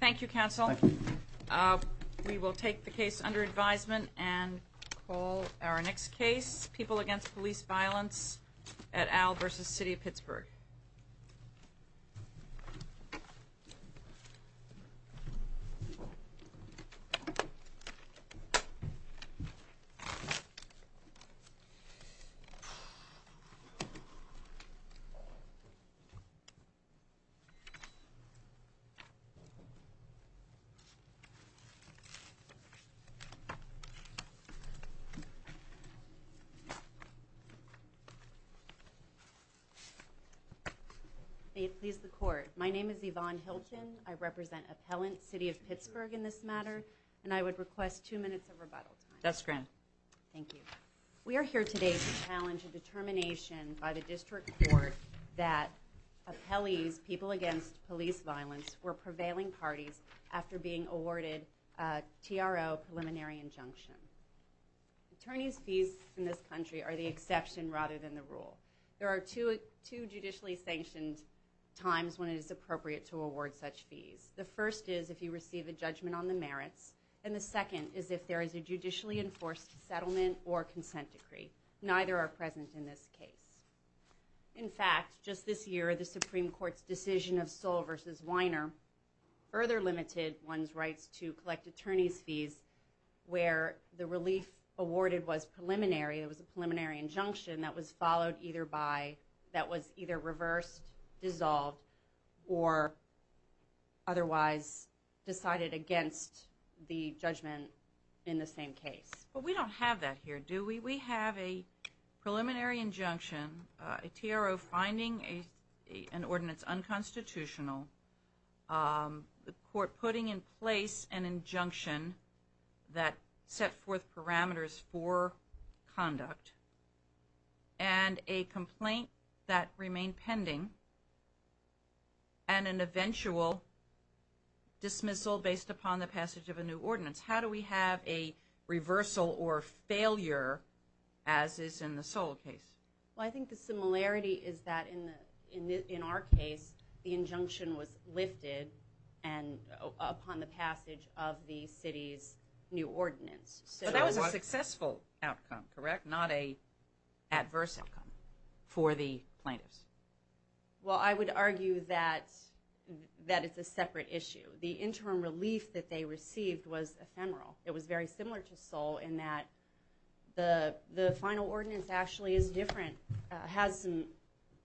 Thank you, Counsel. We will take the case under advisement and call our next case, People Against Police Violence at Al v. City of Pittsburgh. They have pleased the court. My name is Yvonne Hilton. I represent Appellant City of Pittsburgh in this matter, and I would request two minutes of rebuttal time. That's grand. Thank you. We are here today to challenge a determination by the District Court that Appellees, People Against Police Violence, were prevailing parties after being awarded a TRO preliminary injunction. Attorneys' fees in this country are the exception rather than the rule. There are two judicially sanctioned times when it is appropriate to award such fees. The first is if you receive a judgment on the merits, and the second is if there is a judicially enforced settlement or consent decree. Neither are present in this case. In fact, just this year, the Supreme Court's decision of Sewell v. Weiner further limited one's rights to collect attorneys' fees where the relief awarded was preliminary. It was a preliminary injunction that was followed either by – that was either reversed, dissolved, or otherwise decided against the judgment in the same case. But we don't have that here, do we? We have a preliminary injunction, a TRO finding an ordinance unconstitutional, the court putting in place an injunction that set forth parameters for conduct, and a complaint that remained pending, and an eventual dismissal based upon the passage of a new ordinance. How do we have a reversal or failure as is in the Sewell case? Well, I think the similarity is that in our case, the injunction was lifted upon the passage of the city's new ordinance. So that was a successful outcome, correct, not an adverse outcome for the plaintiffs? Well, I would argue that it's a separate issue. The interim relief that they received was ephemeral. It was very similar to Sewell in that the final ordinance actually is different, has some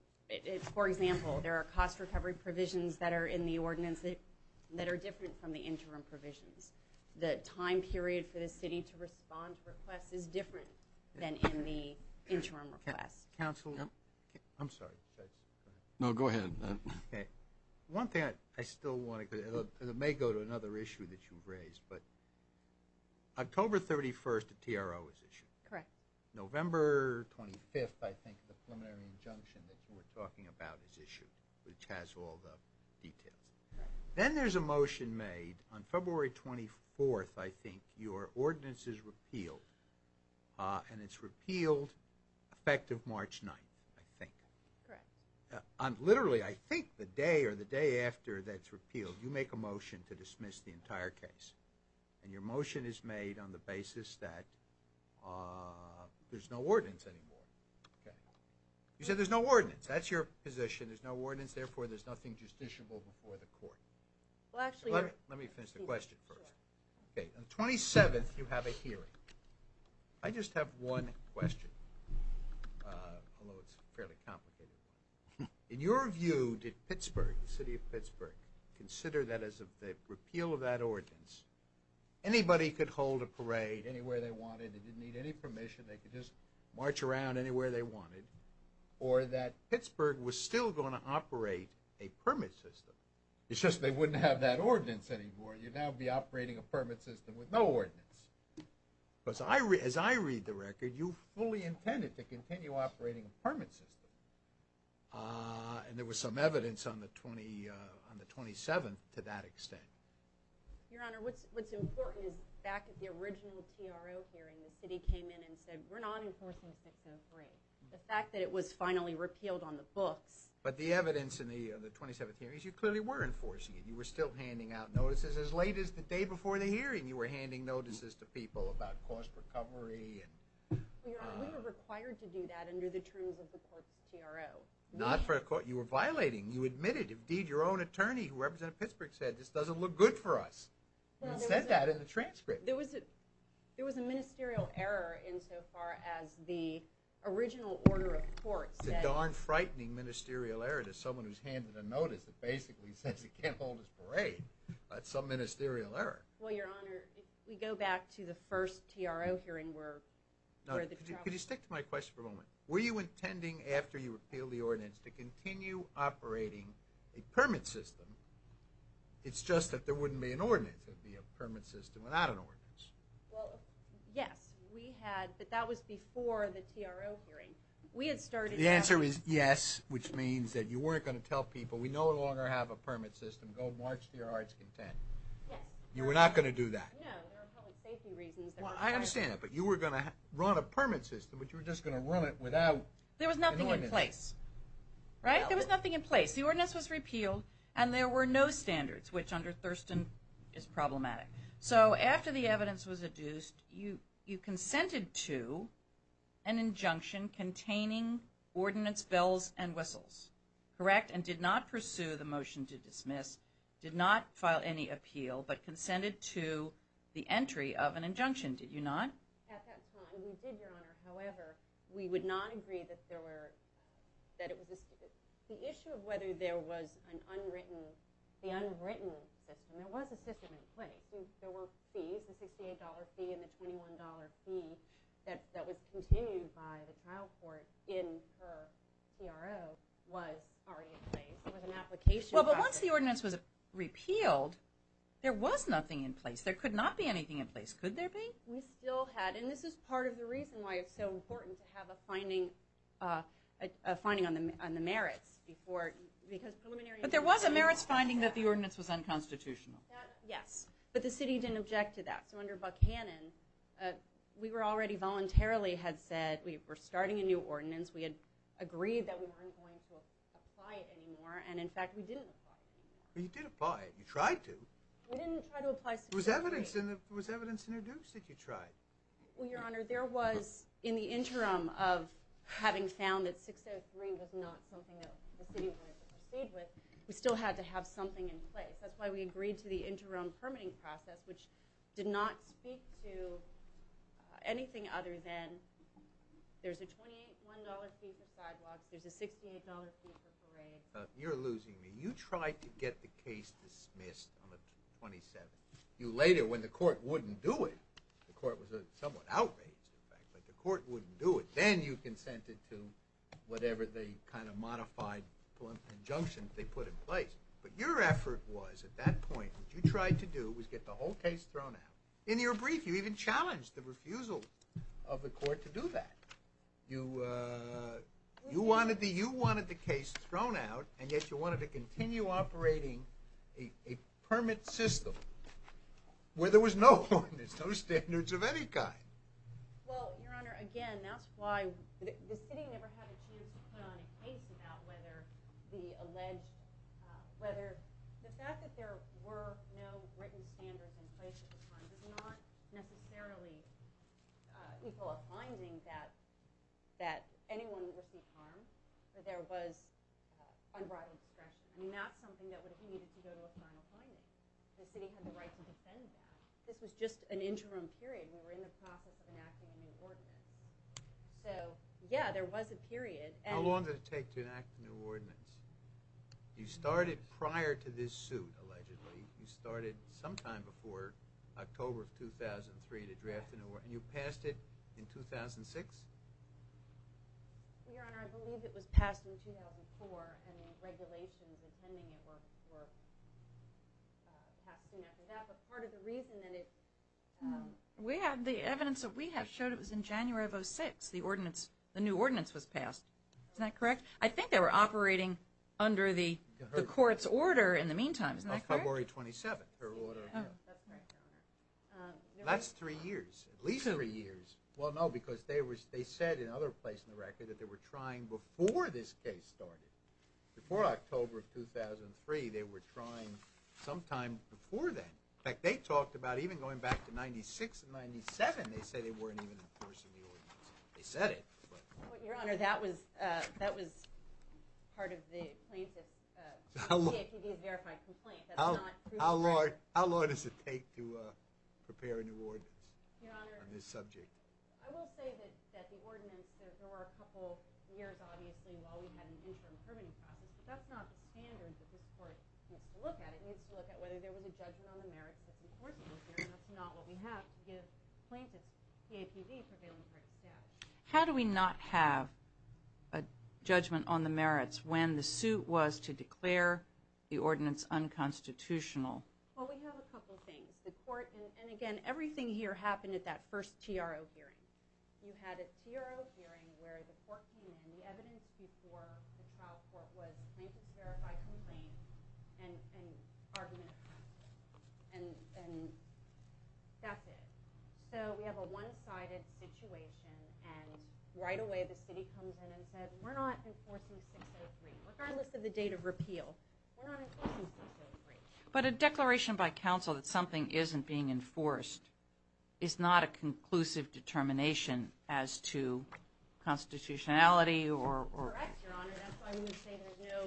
– for example, there are cost recovery provisions that are in the ordinance that are different from the interim provisions. The time period for the city to respond to requests is different than in the interim requests. Counsel, I'm sorry. No, go ahead. One thing I still want to – and it may go to another issue that you've raised, but October 31st, a TRO is issued. Correct. November 25th, I think, the preliminary injunction that you were talking about is issued, which has all the details. Then there's a motion made on February 24th, I think, your ordinance is repealed, and it's repealed effective March 9th, I think. Correct. Literally, I think the day or the day after that's repealed, you make a motion to dismiss the entire case, and your motion is made on the basis that there's no ordinance anymore. You said there's no ordinance. That's your position. There's no ordinance. Therefore, there's nothing justiciable before the court. Let me finish the question first. On the 27th, you have a hearing. I just have one question, although it's a fairly complicated one. In your view, did Pittsburgh, the city of Pittsburgh, consider that as a repeal of that ordinance? Anybody could hold a parade anywhere they wanted. They didn't need any permission. They could just march around anywhere they wanted, or that Pittsburgh was still going to operate a permit system. It's just they wouldn't have that ordinance anymore. You'd now be operating a permit system with no ordinance. As I read the record, you fully intended to continue operating a permit system, and there was some evidence on the 27th to that extent. Your Honor, what's important is back at the original TRO hearing, the city came in and said we're not enforcing 603. The fact that it was finally repealed on the books. But the evidence in the 27th hearing is you clearly were enforcing it. You were still handing out notices. As late as the day before the hearing, you were handing notices to people about cost recovery. Your Honor, we were required to do that under the terms of the court's TRO. Not for a court. You were violating. You admitted. Indeed, your own attorney, who represented Pittsburgh, said this doesn't look good for us, and said that in the transcript. There was a ministerial error insofar as the original order of court said— It's a darn frightening ministerial error to someone who's handed a notice that basically says he can't hold his parade. That's some ministerial error. Well, your Honor, if we go back to the first TRO hearing where the trial— Could you stick to my question for a moment? Were you intending, after you repealed the ordinance, to continue operating a permit system? It's just that there wouldn't be an ordinance. It would be a permit system without an ordinance. Well, yes. We had, but that was before the TRO hearing. We had started— The answer is yes, which means that you weren't going to tell people. We no longer have a permit system. Go march to your heart's content. You were not going to do that. No. There were public safety reasons. Well, I understand that, but you were going to run a permit system, but you were just going to run it without an ordinance. There was nothing in place. Right? There was nothing in place. The ordinance was repealed, and there were no standards, which under Thurston is problematic. So after the evidence was adduced, you consented to an injunction containing ordinance bells and whistles. Correct? And did not pursue the motion to dismiss, did not file any appeal, but consented to the entry of an injunction, did you not? At that time, we did, Your Honor. However, we would not agree that there were— The issue of whether there was an unwritten system, there was a system in place. The $68 fee and the $21 fee that was continued by the trial court in her CRO was already in place. There was an application process. Well, but once the ordinance was repealed, there was nothing in place. There could not be anything in place. Could there be? We still had, and this is part of the reason why it's so important to have a finding on the merits. But there was a merits finding that the ordinance was unconstitutional. Yes, but the city didn't object to that. So under Buckhannon, we were already voluntarily had said we were starting a new ordinance. We had agreed that we weren't going to apply it anymore, and in fact, we didn't apply it. Well, you did apply it. You tried to. We didn't try to apply— There was evidence introduced that you tried. Well, Your Honor, there was in the interim of having found that 603 was not something that the city wanted to proceed with, we still had to have something in place. That's why we agreed to the interim permitting process, which did not speak to anything other than there's a $21 fee for sidewalks, there's a $68 fee for parades. You're losing me. You tried to get the case dismissed on the 27th. You later, when the court wouldn't do it—the court was somewhat outraged, in fact, but the court wouldn't do it—then you consented to whatever the kind of modified injunction they put in place. But your effort was, at that point, what you tried to do was get the whole case thrown out. In your brief, you even challenged the refusal of the court to do that. You wanted the case thrown out, and yet you wanted to continue operating a permit system where there was no ordinance, no standards of any kind. Well, Your Honor, again, that's why the city never had a chance to put on a case about whether the alleged— whether the fact that there were no written standards in place at the time does not necessarily equal a finding that anyone would receive harm, that there was unbridled discretion. I mean, that's something that would have needed to go to a final finding. The city had the right to defend that. This was just an interim period. We were in the process of enacting a new ordinance. So, yeah, there was a period. How long did it take to enact a new ordinance? You started prior to this suit, allegedly. You started sometime before October of 2003 to draft a new—and you passed it in 2006? Your Honor, I believe it was passed in 2004, and the regulations intending it were passed soon after that. But part of the reason that it— We have—the evidence that we have showed it was in January of 2006, the ordinance—the new ordinance was passed. Isn't that correct? I think they were operating under the court's order in the meantime. Isn't that correct? Of February 27, her order. That's right, Your Honor. That's three years, at least three years. Well, no, because they said in another place in the record that they were trying before this case started. Before October of 2003, they were trying sometime before then. In fact, they talked about even going back to 1996 and 1997, they said they weren't even enforcing the ordinance. They said it, but— Your Honor, that was part of the plaintiff's—CAPD's verified complaint. That's not— How long does it take to prepare a new ordinance on this subject? I will say that the ordinance, there were a couple years, obviously, while we had an interim permitting process, but that's not the standard that this court needs to look at. It needs to look at whether there was a judgment on the merits that the enforcement was there, and that's not what we have to give plaintiffs' CAPD prevailing rights status. How do we not have a judgment on the merits when the suit was to declare the ordinance unconstitutional? Well, we have a couple things. The court—and, again, everything here happened at that first TRO hearing. You had a TRO hearing where the court came in. The evidence before the trial court was the plaintiff's verified complaint and argument. And that's it. So we have a one-sided situation, and right away the city comes in and said, we're not enforcing 603, regardless of the date of repeal. We're not enforcing 603. But a declaration by counsel that something isn't being enforced is not a conclusive determination as to constitutionality or— Correct, Your Honor. That's why we say there's no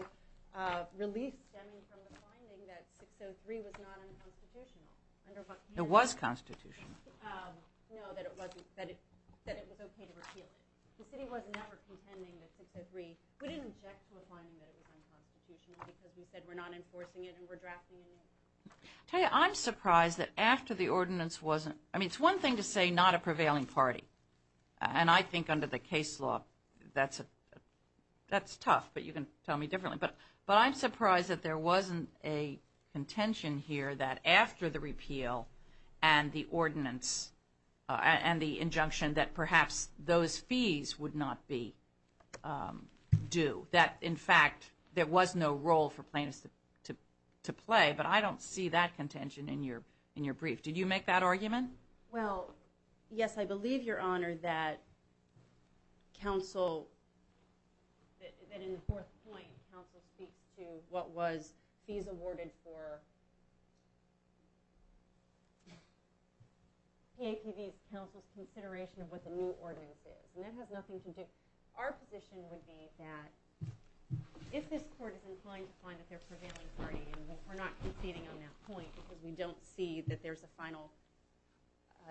relief stemming from the finding that 603 was not unconstitutional. It was constitutional. No, that it was okay to repeal it. The city was never contending that 603—we didn't object to the finding that it was unconstitutional because we said we're not enforcing it and we're drafting it in. Tell you, I'm surprised that after the ordinance wasn't—I mean, it's one thing to say not a prevailing party, and I think under the case law that's tough, but you can tell me differently. But I'm surprised that there wasn't a contention here that after the repeal and the ordinance and the injunction that perhaps those fees would not be due, that, in fact, there was no role for plaintiffs to play. But I don't see that contention in your brief. Well, yes, I believe, Your Honor, that counsel—that in the fourth point, counsel speaks to what was fees awarded for PAPB's counsel's consideration of what the new ordinance is, and that has nothing to do—our position would be that if this court is inclined to find that there's a prevailing party, and we're not conceding on that point because we don't see that there's a final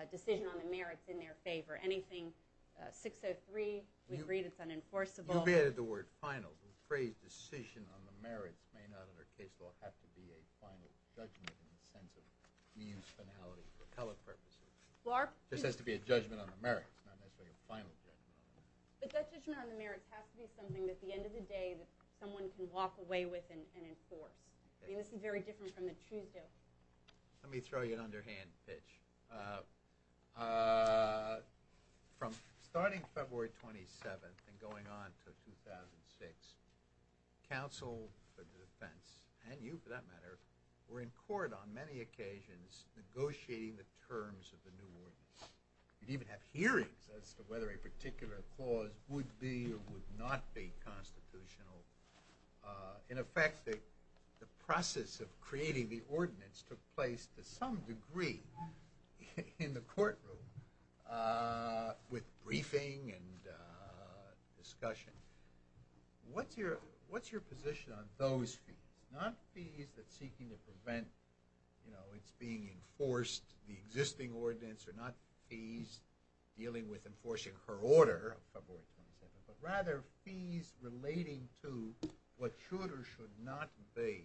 decision on the merits in their favor. Anything—603, we agree that it's unenforceable. You've added the word final. The phrase decision on the merits may not under case law have to be a final judgment in the sense of means finality for telepurposes. Clark— This has to be a judgment on the merits, not necessarily a final judgment on the merits. But that judgment on the merits has to be something that at the end of the day that someone can walk away with and enforce. I mean, this is very different from the truth here. Let me throw you an underhand pitch. From starting February 27th and going on to 2006, counsel for defense, and you for that matter, were in court on many occasions negotiating the terms of the new ordinance. You'd even have hearings as to whether a particular clause would be or would not be constitutional. In effect, the process of creating the ordinance took place to some degree in the courtroom with briefing and discussion. What's your position on those fees? Not fees that's seeking to prevent, you know, it's being enforced, the existing ordinance, or not fees dealing with enforcing her order of February 27th, but rather fees relating to what should or should not be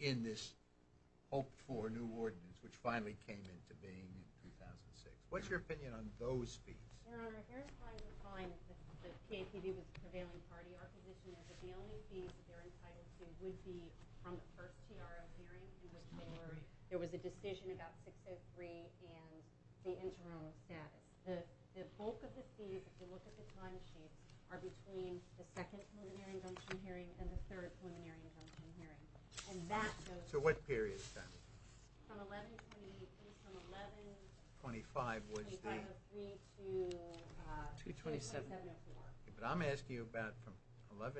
in this hoped-for new ordinance, which finally came into being in 2006. What's your opinion on those fees? Your Honor, here's why we find that the PAPD was a prevailing party. Our position is that the only fees that they're entitled to would be from the first TRO hearing, in which there was a decision about 603 and the interim status. The bulk of the fees, if you look at the timesheets, are between the second preliminary injunction hearing and the third preliminary injunction hearing. And that goes to— So what period is that? From 11— Twenty-five was the— Twenty-five of three to— 227. But I'm asking about from 11-27-2004—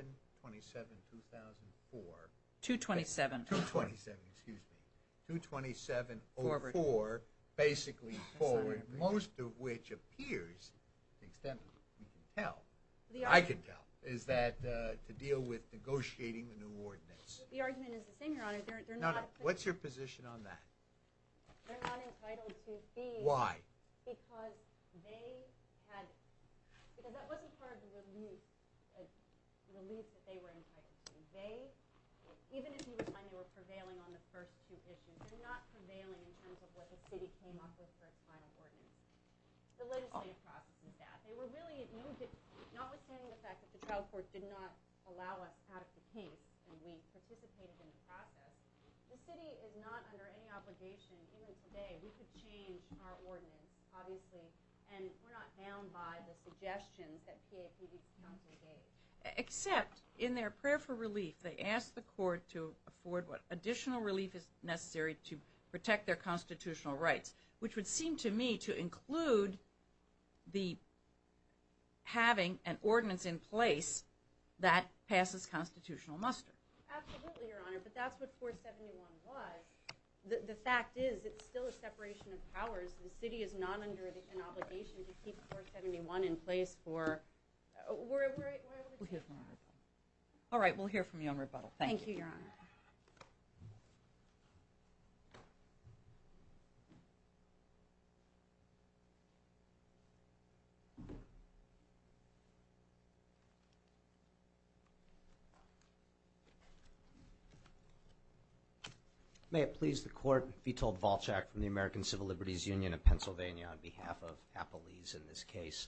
227. 227, excuse me. 227-04, basically forward, most of which appears, to the extent we can tell, I can tell, is that to deal with negotiating the new ordinance. The argument is the same, Your Honor. They're not— What's your position on that? They're not entitled to fees— Why? Because they had—because that wasn't part of the release that they were entitled to. They—even if you would find they were prevailing on the first two issues, they're not prevailing in terms of what the city came up with for its final ordinance. The legislative process is that. They were really—notwithstanding the fact that the trial court did not allow us out of the case and we participated in the process, the city is not under any obligation. Even today, we could change our ordinance, obviously, and we're not bound by the suggestions that PAPB counsel gave. Except in their prayer for relief, they asked the court to afford what additional relief is necessary to protect their constitutional rights, which would seem to me to include having an ordinance in place that passes constitutional muster. Absolutely, Your Honor, but that's what 471 was. The fact is it's still a separation of powers. The city is not under an obligation to keep 471 in place for— We'll hear from you on rebuttal. All right, we'll hear from you on rebuttal. Thank you, Your Honor. Thank you, Your Honor. May it please the court, Vitol Valchak from the American Civil Liberties Union of Pennsylvania on behalf of Appalese in this case.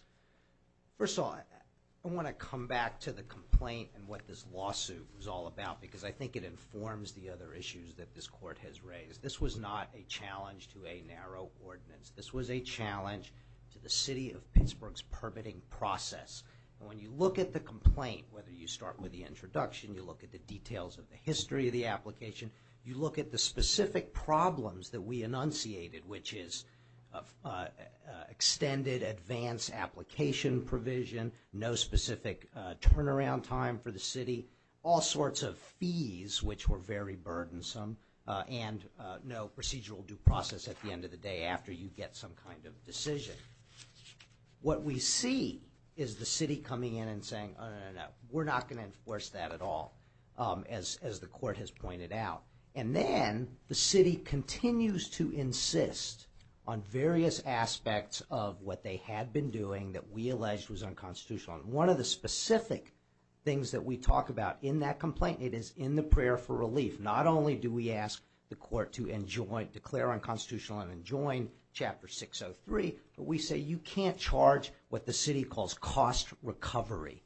First of all, I want to come back to the complaint and what this lawsuit was all about because I think it informs the other issues that this court has raised. This was not a challenge to a narrow ordinance. This was a challenge to the city of Pittsburgh's permitting process. When you look at the complaint, whether you start with the introduction, you look at the details of the history of the application, you look at the specific problems that we enunciated, which is extended advance application provision, no specific turnaround time for the city, all sorts of fees, which were very burdensome, and no procedural due process at the end of the day after you get some kind of decision. What we see is the city coming in and saying, oh, no, no, no, we're not going to enforce that at all, as the court has pointed out. And then the city continues to insist on various aspects of what they had been doing that we alleged was unconstitutional. One of the specific things that we talk about in that complaint, it is in the prayer for relief. Not only do we ask the court to declare unconstitutional and enjoin Chapter 603, but we say you can't charge what the city calls cost recovery.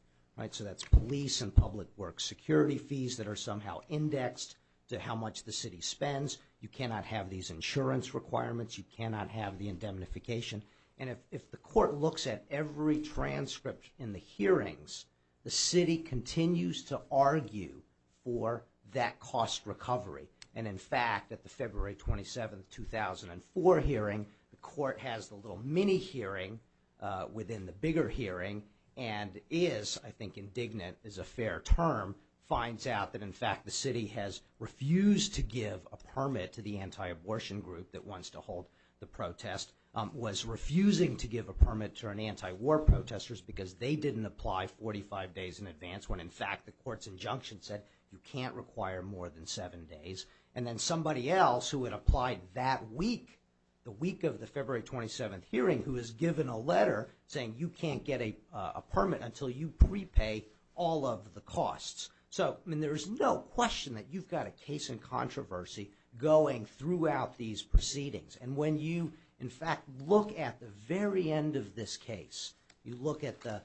So that's police and public works security fees that are somehow indexed to how much the city spends. You cannot have these insurance requirements. You cannot have the indemnification. And if the court looks at every transcript in the hearings, the city continues to argue for that cost recovery. And, in fact, at the February 27, 2004 hearing, the court has the little mini-hearing within the bigger hearing and is, I think indignant is a fair term, finds out that, in fact, the city has refused to give a permit to the anti-abortion group that wants to hold the protest, was refusing to give a permit to anti-war protesters because they didn't apply 45 days in advance when, in fact, the court's injunction said you can't require more than seven days. And then somebody else who had applied that week, the week of the February 27 hearing, who was given a letter saying you can't get a permit until you prepay all of the costs. So, I mean, there is no question that you've got a case in controversy going throughout these proceedings. And when you, in fact, look at the very end of this case, you look at the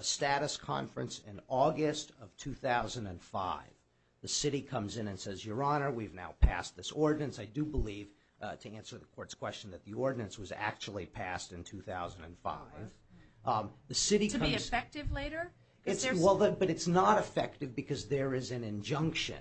status conference in August of 2005, the city comes in and says, Your Honor, we've now passed this ordinance. I do believe, to answer the court's question, that the ordinance was actually passed in 2005. To be effective later? Well, but it's not effective because there is an injunction.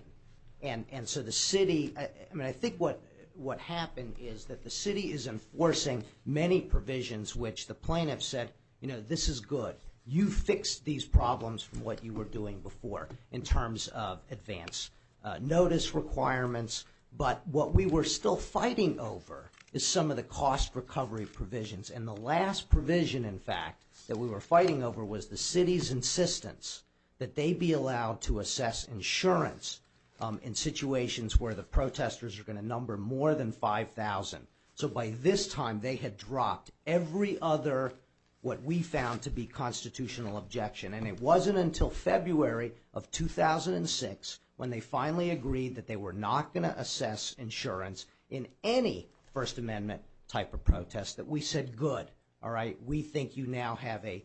And so the city, I mean, I think what happened is that the city is enforcing many provisions which the plaintiffs said, You know, this is good. You fixed these problems from what you were doing before in terms of advance notice requirements. But what we were still fighting over is some of the cost recovery provisions. And the last provision, in fact, that we were fighting over was the city's insistence that they be allowed to assess insurance in situations where the protesters are going to number more than 5,000. So by this time, they had dropped every other what we found to be constitutional objection. And it wasn't until February of 2006 when they finally agreed that they were not going to assess insurance in any First Amendment type of protest that we said, Good, all right, we think you now have a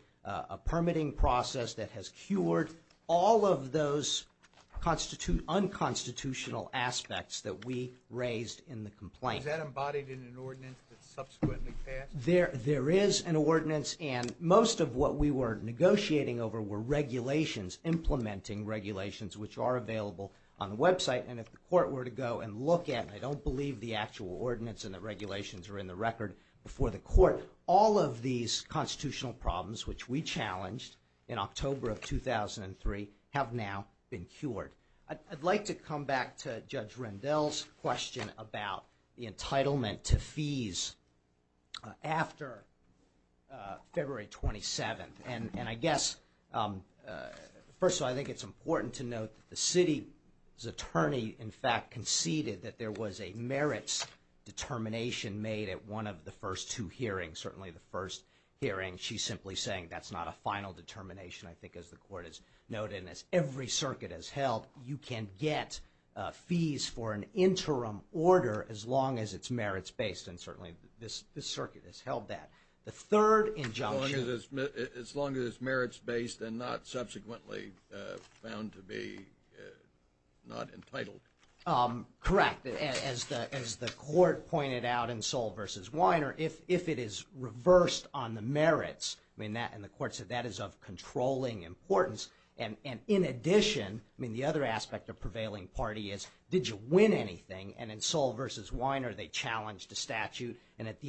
permitting process that has cured all of those unconstitutional aspects that we raised in the complaint. Was that embodied in an ordinance that subsequently passed? There is an ordinance. And most of what we were negotiating over were regulations, implementing regulations, which are available on the website. And if the court were to go and look at it, I don't believe the actual ordinance and the regulations are in the record before the court. All of these constitutional problems, which we challenged in October of 2003, have now been cured. I'd like to come back to Judge Rendell's question about the entitlement to fees after February 27th. And I guess, first of all, I think it's important to note that the city's attorney, in fact, conceded that there was a merits determination made at one of the first two hearings, certainly the first hearing. She's simply saying that's not a final determination, I think, as the court has noted. And as every circuit has held, you can get fees for an interim order as long as it's merits-based, and certainly this circuit has held that. The third injunction- As long as it's merits-based and not subsequently found to be not entitled. Correct. As the court pointed out in Soll v. Weiner, if it is reversed on the merits, and the court said that is of controlling importance, and in addition, the other aspect of prevailing party is did you win anything? And at the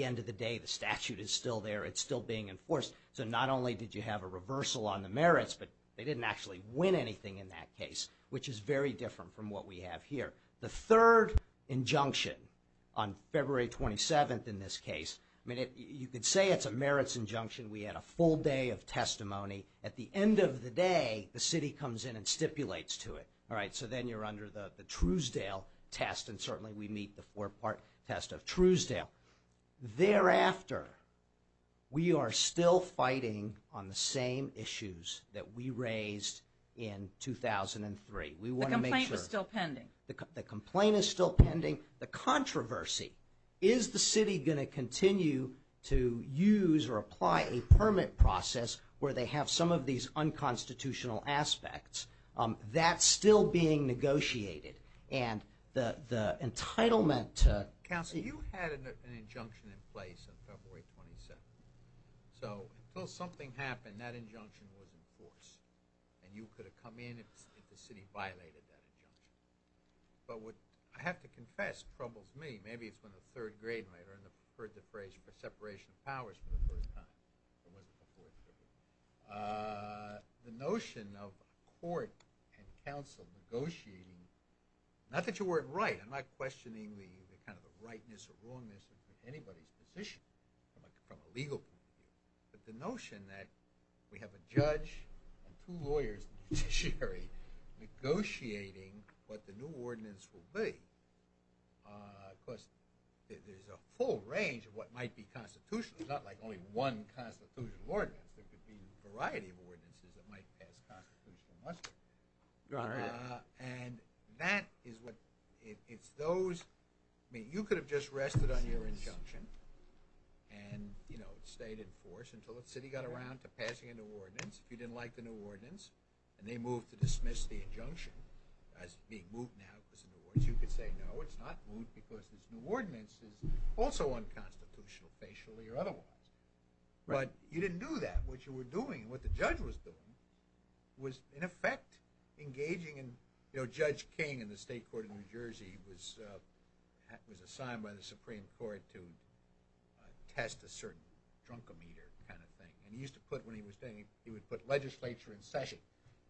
end of the day, the statute is still there. It's still being enforced. So not only did you have a reversal on the merits, but they didn't actually win anything in that case, which is very different from what we have here. The third injunction on February 27th in this case, you could say it's a merits injunction. We had a full day of testimony. At the end of the day, the city comes in and stipulates to it. All right, so then you're under the Truesdale test, and certainly we meet the four-part test of Truesdale. Thereafter, we are still fighting on the same issues that we raised in 2003. The complaint was still pending. The complaint is still pending. The controversy is the city going to continue to use or apply a permit process where they have some of these unconstitutional aspects? That's still being negotiated. And the entitlement to- Counsel, you had an injunction in place on February 27th. So until something happened, that injunction was enforced, and you could have come in if the city violated that injunction. But what I have to confess troubles me. Maybe it's when the third grade might have heard the phrase separation of powers for the first time. It wasn't before February. The notion of court and counsel negotiating, not that you weren't right. I'm not questioning the kind of rightness or wrongness of anybody's position from a legal point of view, but the notion that we have a judge and two lawyers in the judiciary negotiating what the new ordinance will be. Of course, there's a full range of what might be constitutional. It's not like only one constitutional ordinance. There could be a variety of ordinances that might pass constitutional muster. And that is what- it's those- I mean, you could have just rested on your injunction and, you know, stayed in force until the city got around to passing a new ordinance. If you didn't like the new ordinance and they moved to dismiss the injunction as being moved now because of the new ordinance, you could say, no, it's not moved because this new ordinance is also unconstitutional, facially or otherwise. But you didn't do that. What you were doing and what the judge was doing was, in effect, engaging in- you know, Judge King in the state court of New Jersey was assigned by the Supreme Court to test a certain drunk-o-meter kind of thing. And he used to put when he was standing- he would put legislature in session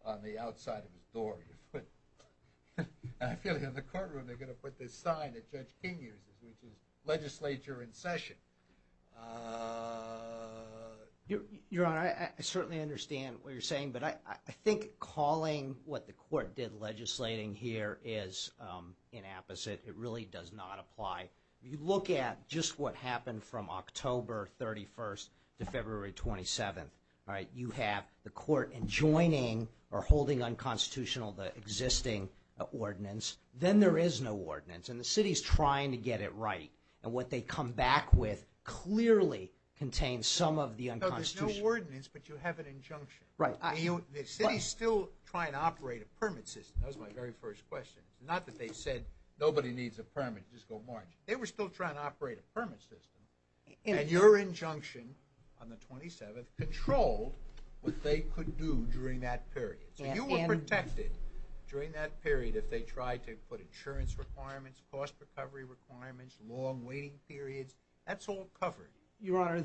on the outside of his door. I feel like in the courtroom they're going to put this sign that Judge King uses, which is legislature in session. Your Honor, I certainly understand what you're saying, but I think calling what the court did legislating here is inapposite. It really does not apply. If you look at just what happened from October 31st to February 27th, all right, you have the court enjoining or holding unconstitutional the existing ordinance. Then there is no ordinance. And the city's trying to get it right. And what they come back with clearly contains some of the unconstitutional- No, there's no ordinance, but you have an injunction. Right. The city's still trying to operate a permit system. That was my very first question. Not that they said nobody needs a permit. Just go marching. They were still trying to operate a permit system. And your injunction on the 27th controlled what they could do during that period. So you were protected during that period if they tried to put insurance requirements, cost recovery requirements, long waiting periods. That's all covered. Your Honor,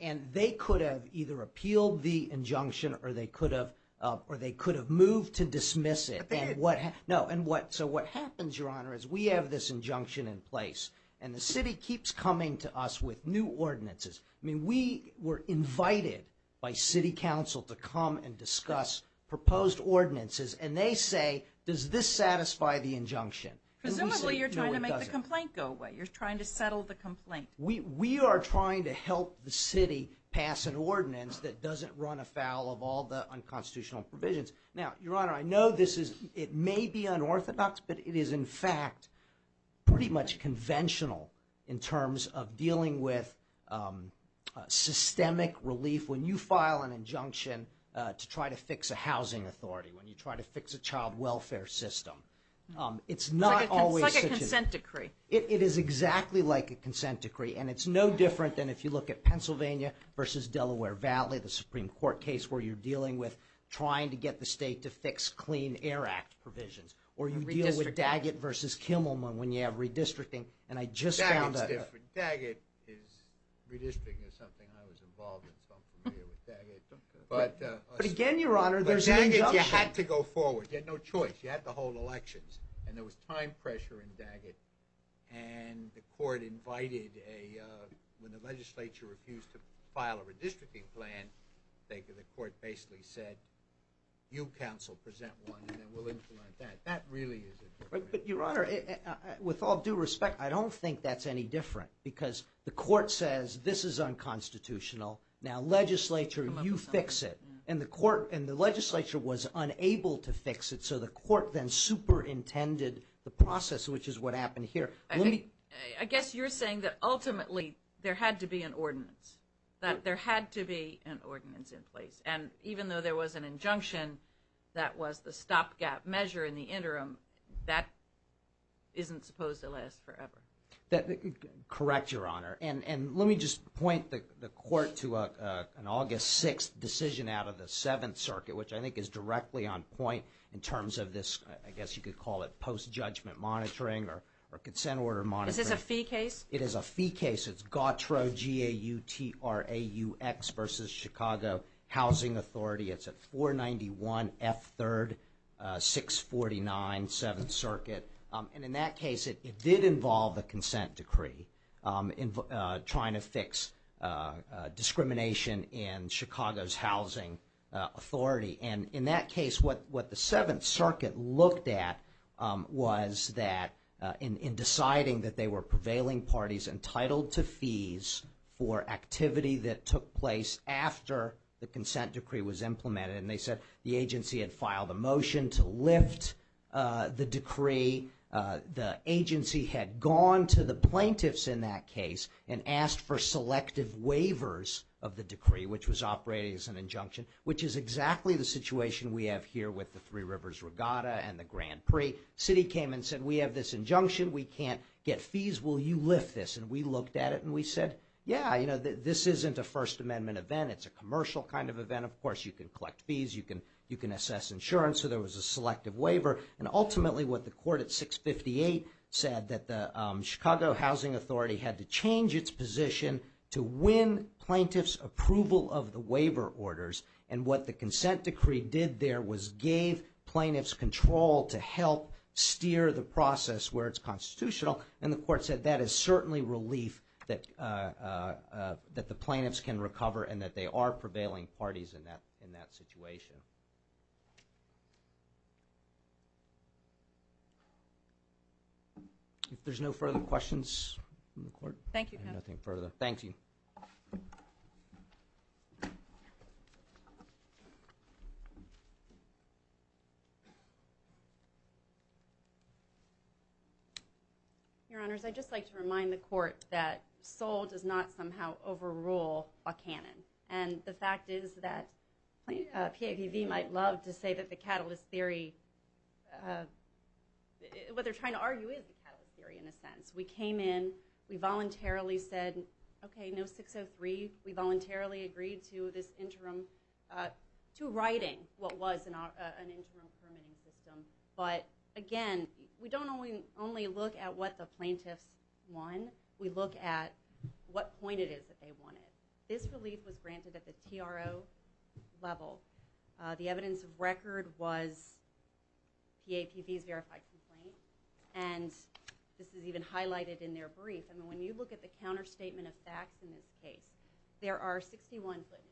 and they could have either appealed the injunction or they could have moved to dismiss it. But they didn't. No, so what happens, Your Honor, is we have this injunction in place. And the city keeps coming to us with new ordinances. I mean, we were invited by city council to come and discuss proposed ordinances. And they say, does this satisfy the injunction? Presumably you're trying to make the complaint go away. You're trying to settle the complaint. We are trying to help the city pass an ordinance that doesn't run afoul of all the unconstitutional provisions. Now, Your Honor, I know this is, it may be unorthodox, but it is in fact pretty much conventional in terms of dealing with systemic relief. When you file an injunction to try to fix a housing authority, when you try to fix a child welfare system, it's not always such a. It's like a consent decree. It is exactly like a consent decree. And it's no different than if you look at Pennsylvania versus Delaware Valley, the Supreme Court case where you're dealing with trying to get the state to fix Clean Air Act provisions. Or you deal with Daggett versus Kimmelman when you have redistricting. And I just found out. Daggett's different. Daggett is, redistricting is something I was involved in, so I'm familiar with Daggett. But again, Your Honor, there's an injunction. But Daggett, you had to go forward. You had no choice. You had to hold elections. And there was time pressure in Daggett. And the court invited a – when the legislature refused to file a redistricting plan, the court basically said, you counsel, present one, and then we'll implement that. That really is a difference. But, Your Honor, with all due respect, I don't think that's any different because the court says this is unconstitutional. Now, legislature, you fix it. And the court – and the legislature was unable to fix it, so the court then superintended the process, which is what happened here. I guess you're saying that ultimately there had to be an ordinance, that there had to be an ordinance in place. And even though there was an injunction that was the stopgap measure in the interim, that isn't supposed to last forever. Correct, Your Honor. And let me just point the court to an August 6th decision out of the Seventh Circuit, which I think is directly on point in terms of this – I guess you could call it post-judgment monitoring or consent order monitoring. Is this a fee case? It is a fee case. It's GAUTRAU, G-A-U-T-R-A-U-X, versus Chicago Housing Authority. It's at 491 F. 3rd, 649 Seventh Circuit. And in that case, it did involve a consent decree trying to fix discrimination in Chicago's housing authority. And in that case, what the Seventh Circuit looked at was that in deciding that they were prevailing parties entitled to fees for activity that took place after the consent decree was implemented. And they said the agency had filed a motion to lift the decree. The agency had gone to the plaintiffs in that case and asked for selective waivers of the decree, which was operating as an injunction, which is exactly the situation we have here with the Three Rivers Regatta and the Grand Prix. The city came and said, we have this injunction. We can't get fees. Will you lift this? And we looked at it and we said, yeah, you know, this isn't a First Amendment event. It's a commercial kind of event. Of course, you can collect fees. You can assess insurance. So there was a selective waiver. And ultimately, what the court at 658 said, that the Chicago Housing Authority had to change its position to win plaintiffs' approval of the waiver orders. And what the consent decree did there was gave plaintiffs control to help steer the process where it's constitutional. And the court said that is certainly relief that the plaintiffs can recover and that they are prevailing parties in that situation. If there's no further questions from the court. Thank you, counsel. Nothing further. Thank you. Your Honors, I'd just like to remind the court that Seoul does not somehow overrule Buchanan. And the fact is that PAPV might love to say that the catalyst theory, what they're trying to argue is the catalyst theory in a sense. We came in. We voluntarily said, OK, no 603. We voluntarily agreed to this interim, to writing what was an interim permitting system. But again, we don't only look at what the plaintiffs won. We look at what point it is that they won it. This relief was granted at the TRO level. The evidence of record was PAPV's verified complaint. And this is even highlighted in their brief. And when you look at the counterstatement of facts in this case, there are 61 plaintiffs.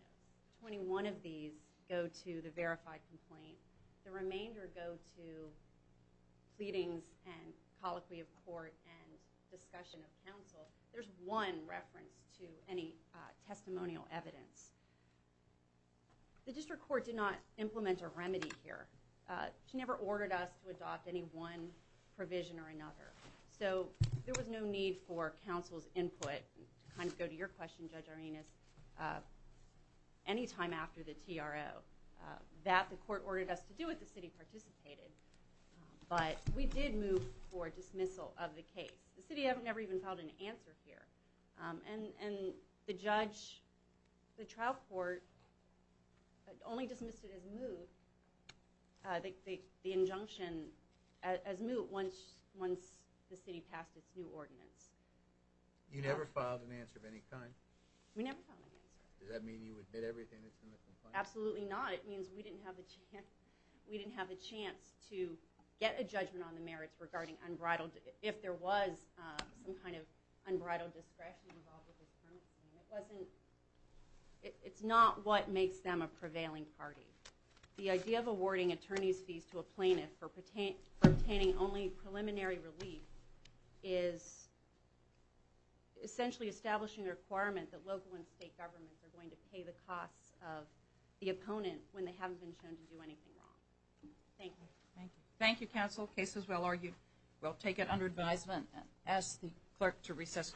21 of these go to the verified complaint. The remainder go to pleadings and colloquy of court and discussion of counsel. There's one reference to any testimonial evidence. The district court did not implement a remedy here. She never ordered us to adopt any one provision or another. So there was no need for counsel's input to kind of go to your question, Judge Arenas, any time after the TRO. That, the court ordered us to do it. The city participated. But we did move for dismissal of the case. The city never even filed an answer here. And the judge, the trial court, only dismissed it as moot, the injunction as moot, once the city passed its new ordinance. You never filed an answer of any kind? We never filed an answer. Does that mean you admit everything that's in the complaint? Absolutely not. It means we didn't have a chance to get a judgment on the merits regarding unbridled, if there was some kind of unbridled discretion involved with the penalty. It wasn't, it's not what makes them a prevailing party. The idea of awarding attorney's fees to a plaintiff for obtaining only preliminary relief is essentially establishing a requirement that local and state governments are going to pay the costs of the opponent when they haven't been shown to do anything wrong. Thank you. Thank you. Thank you, counsel. The case is well argued. We'll take it under advisement and ask the clerk to recess court.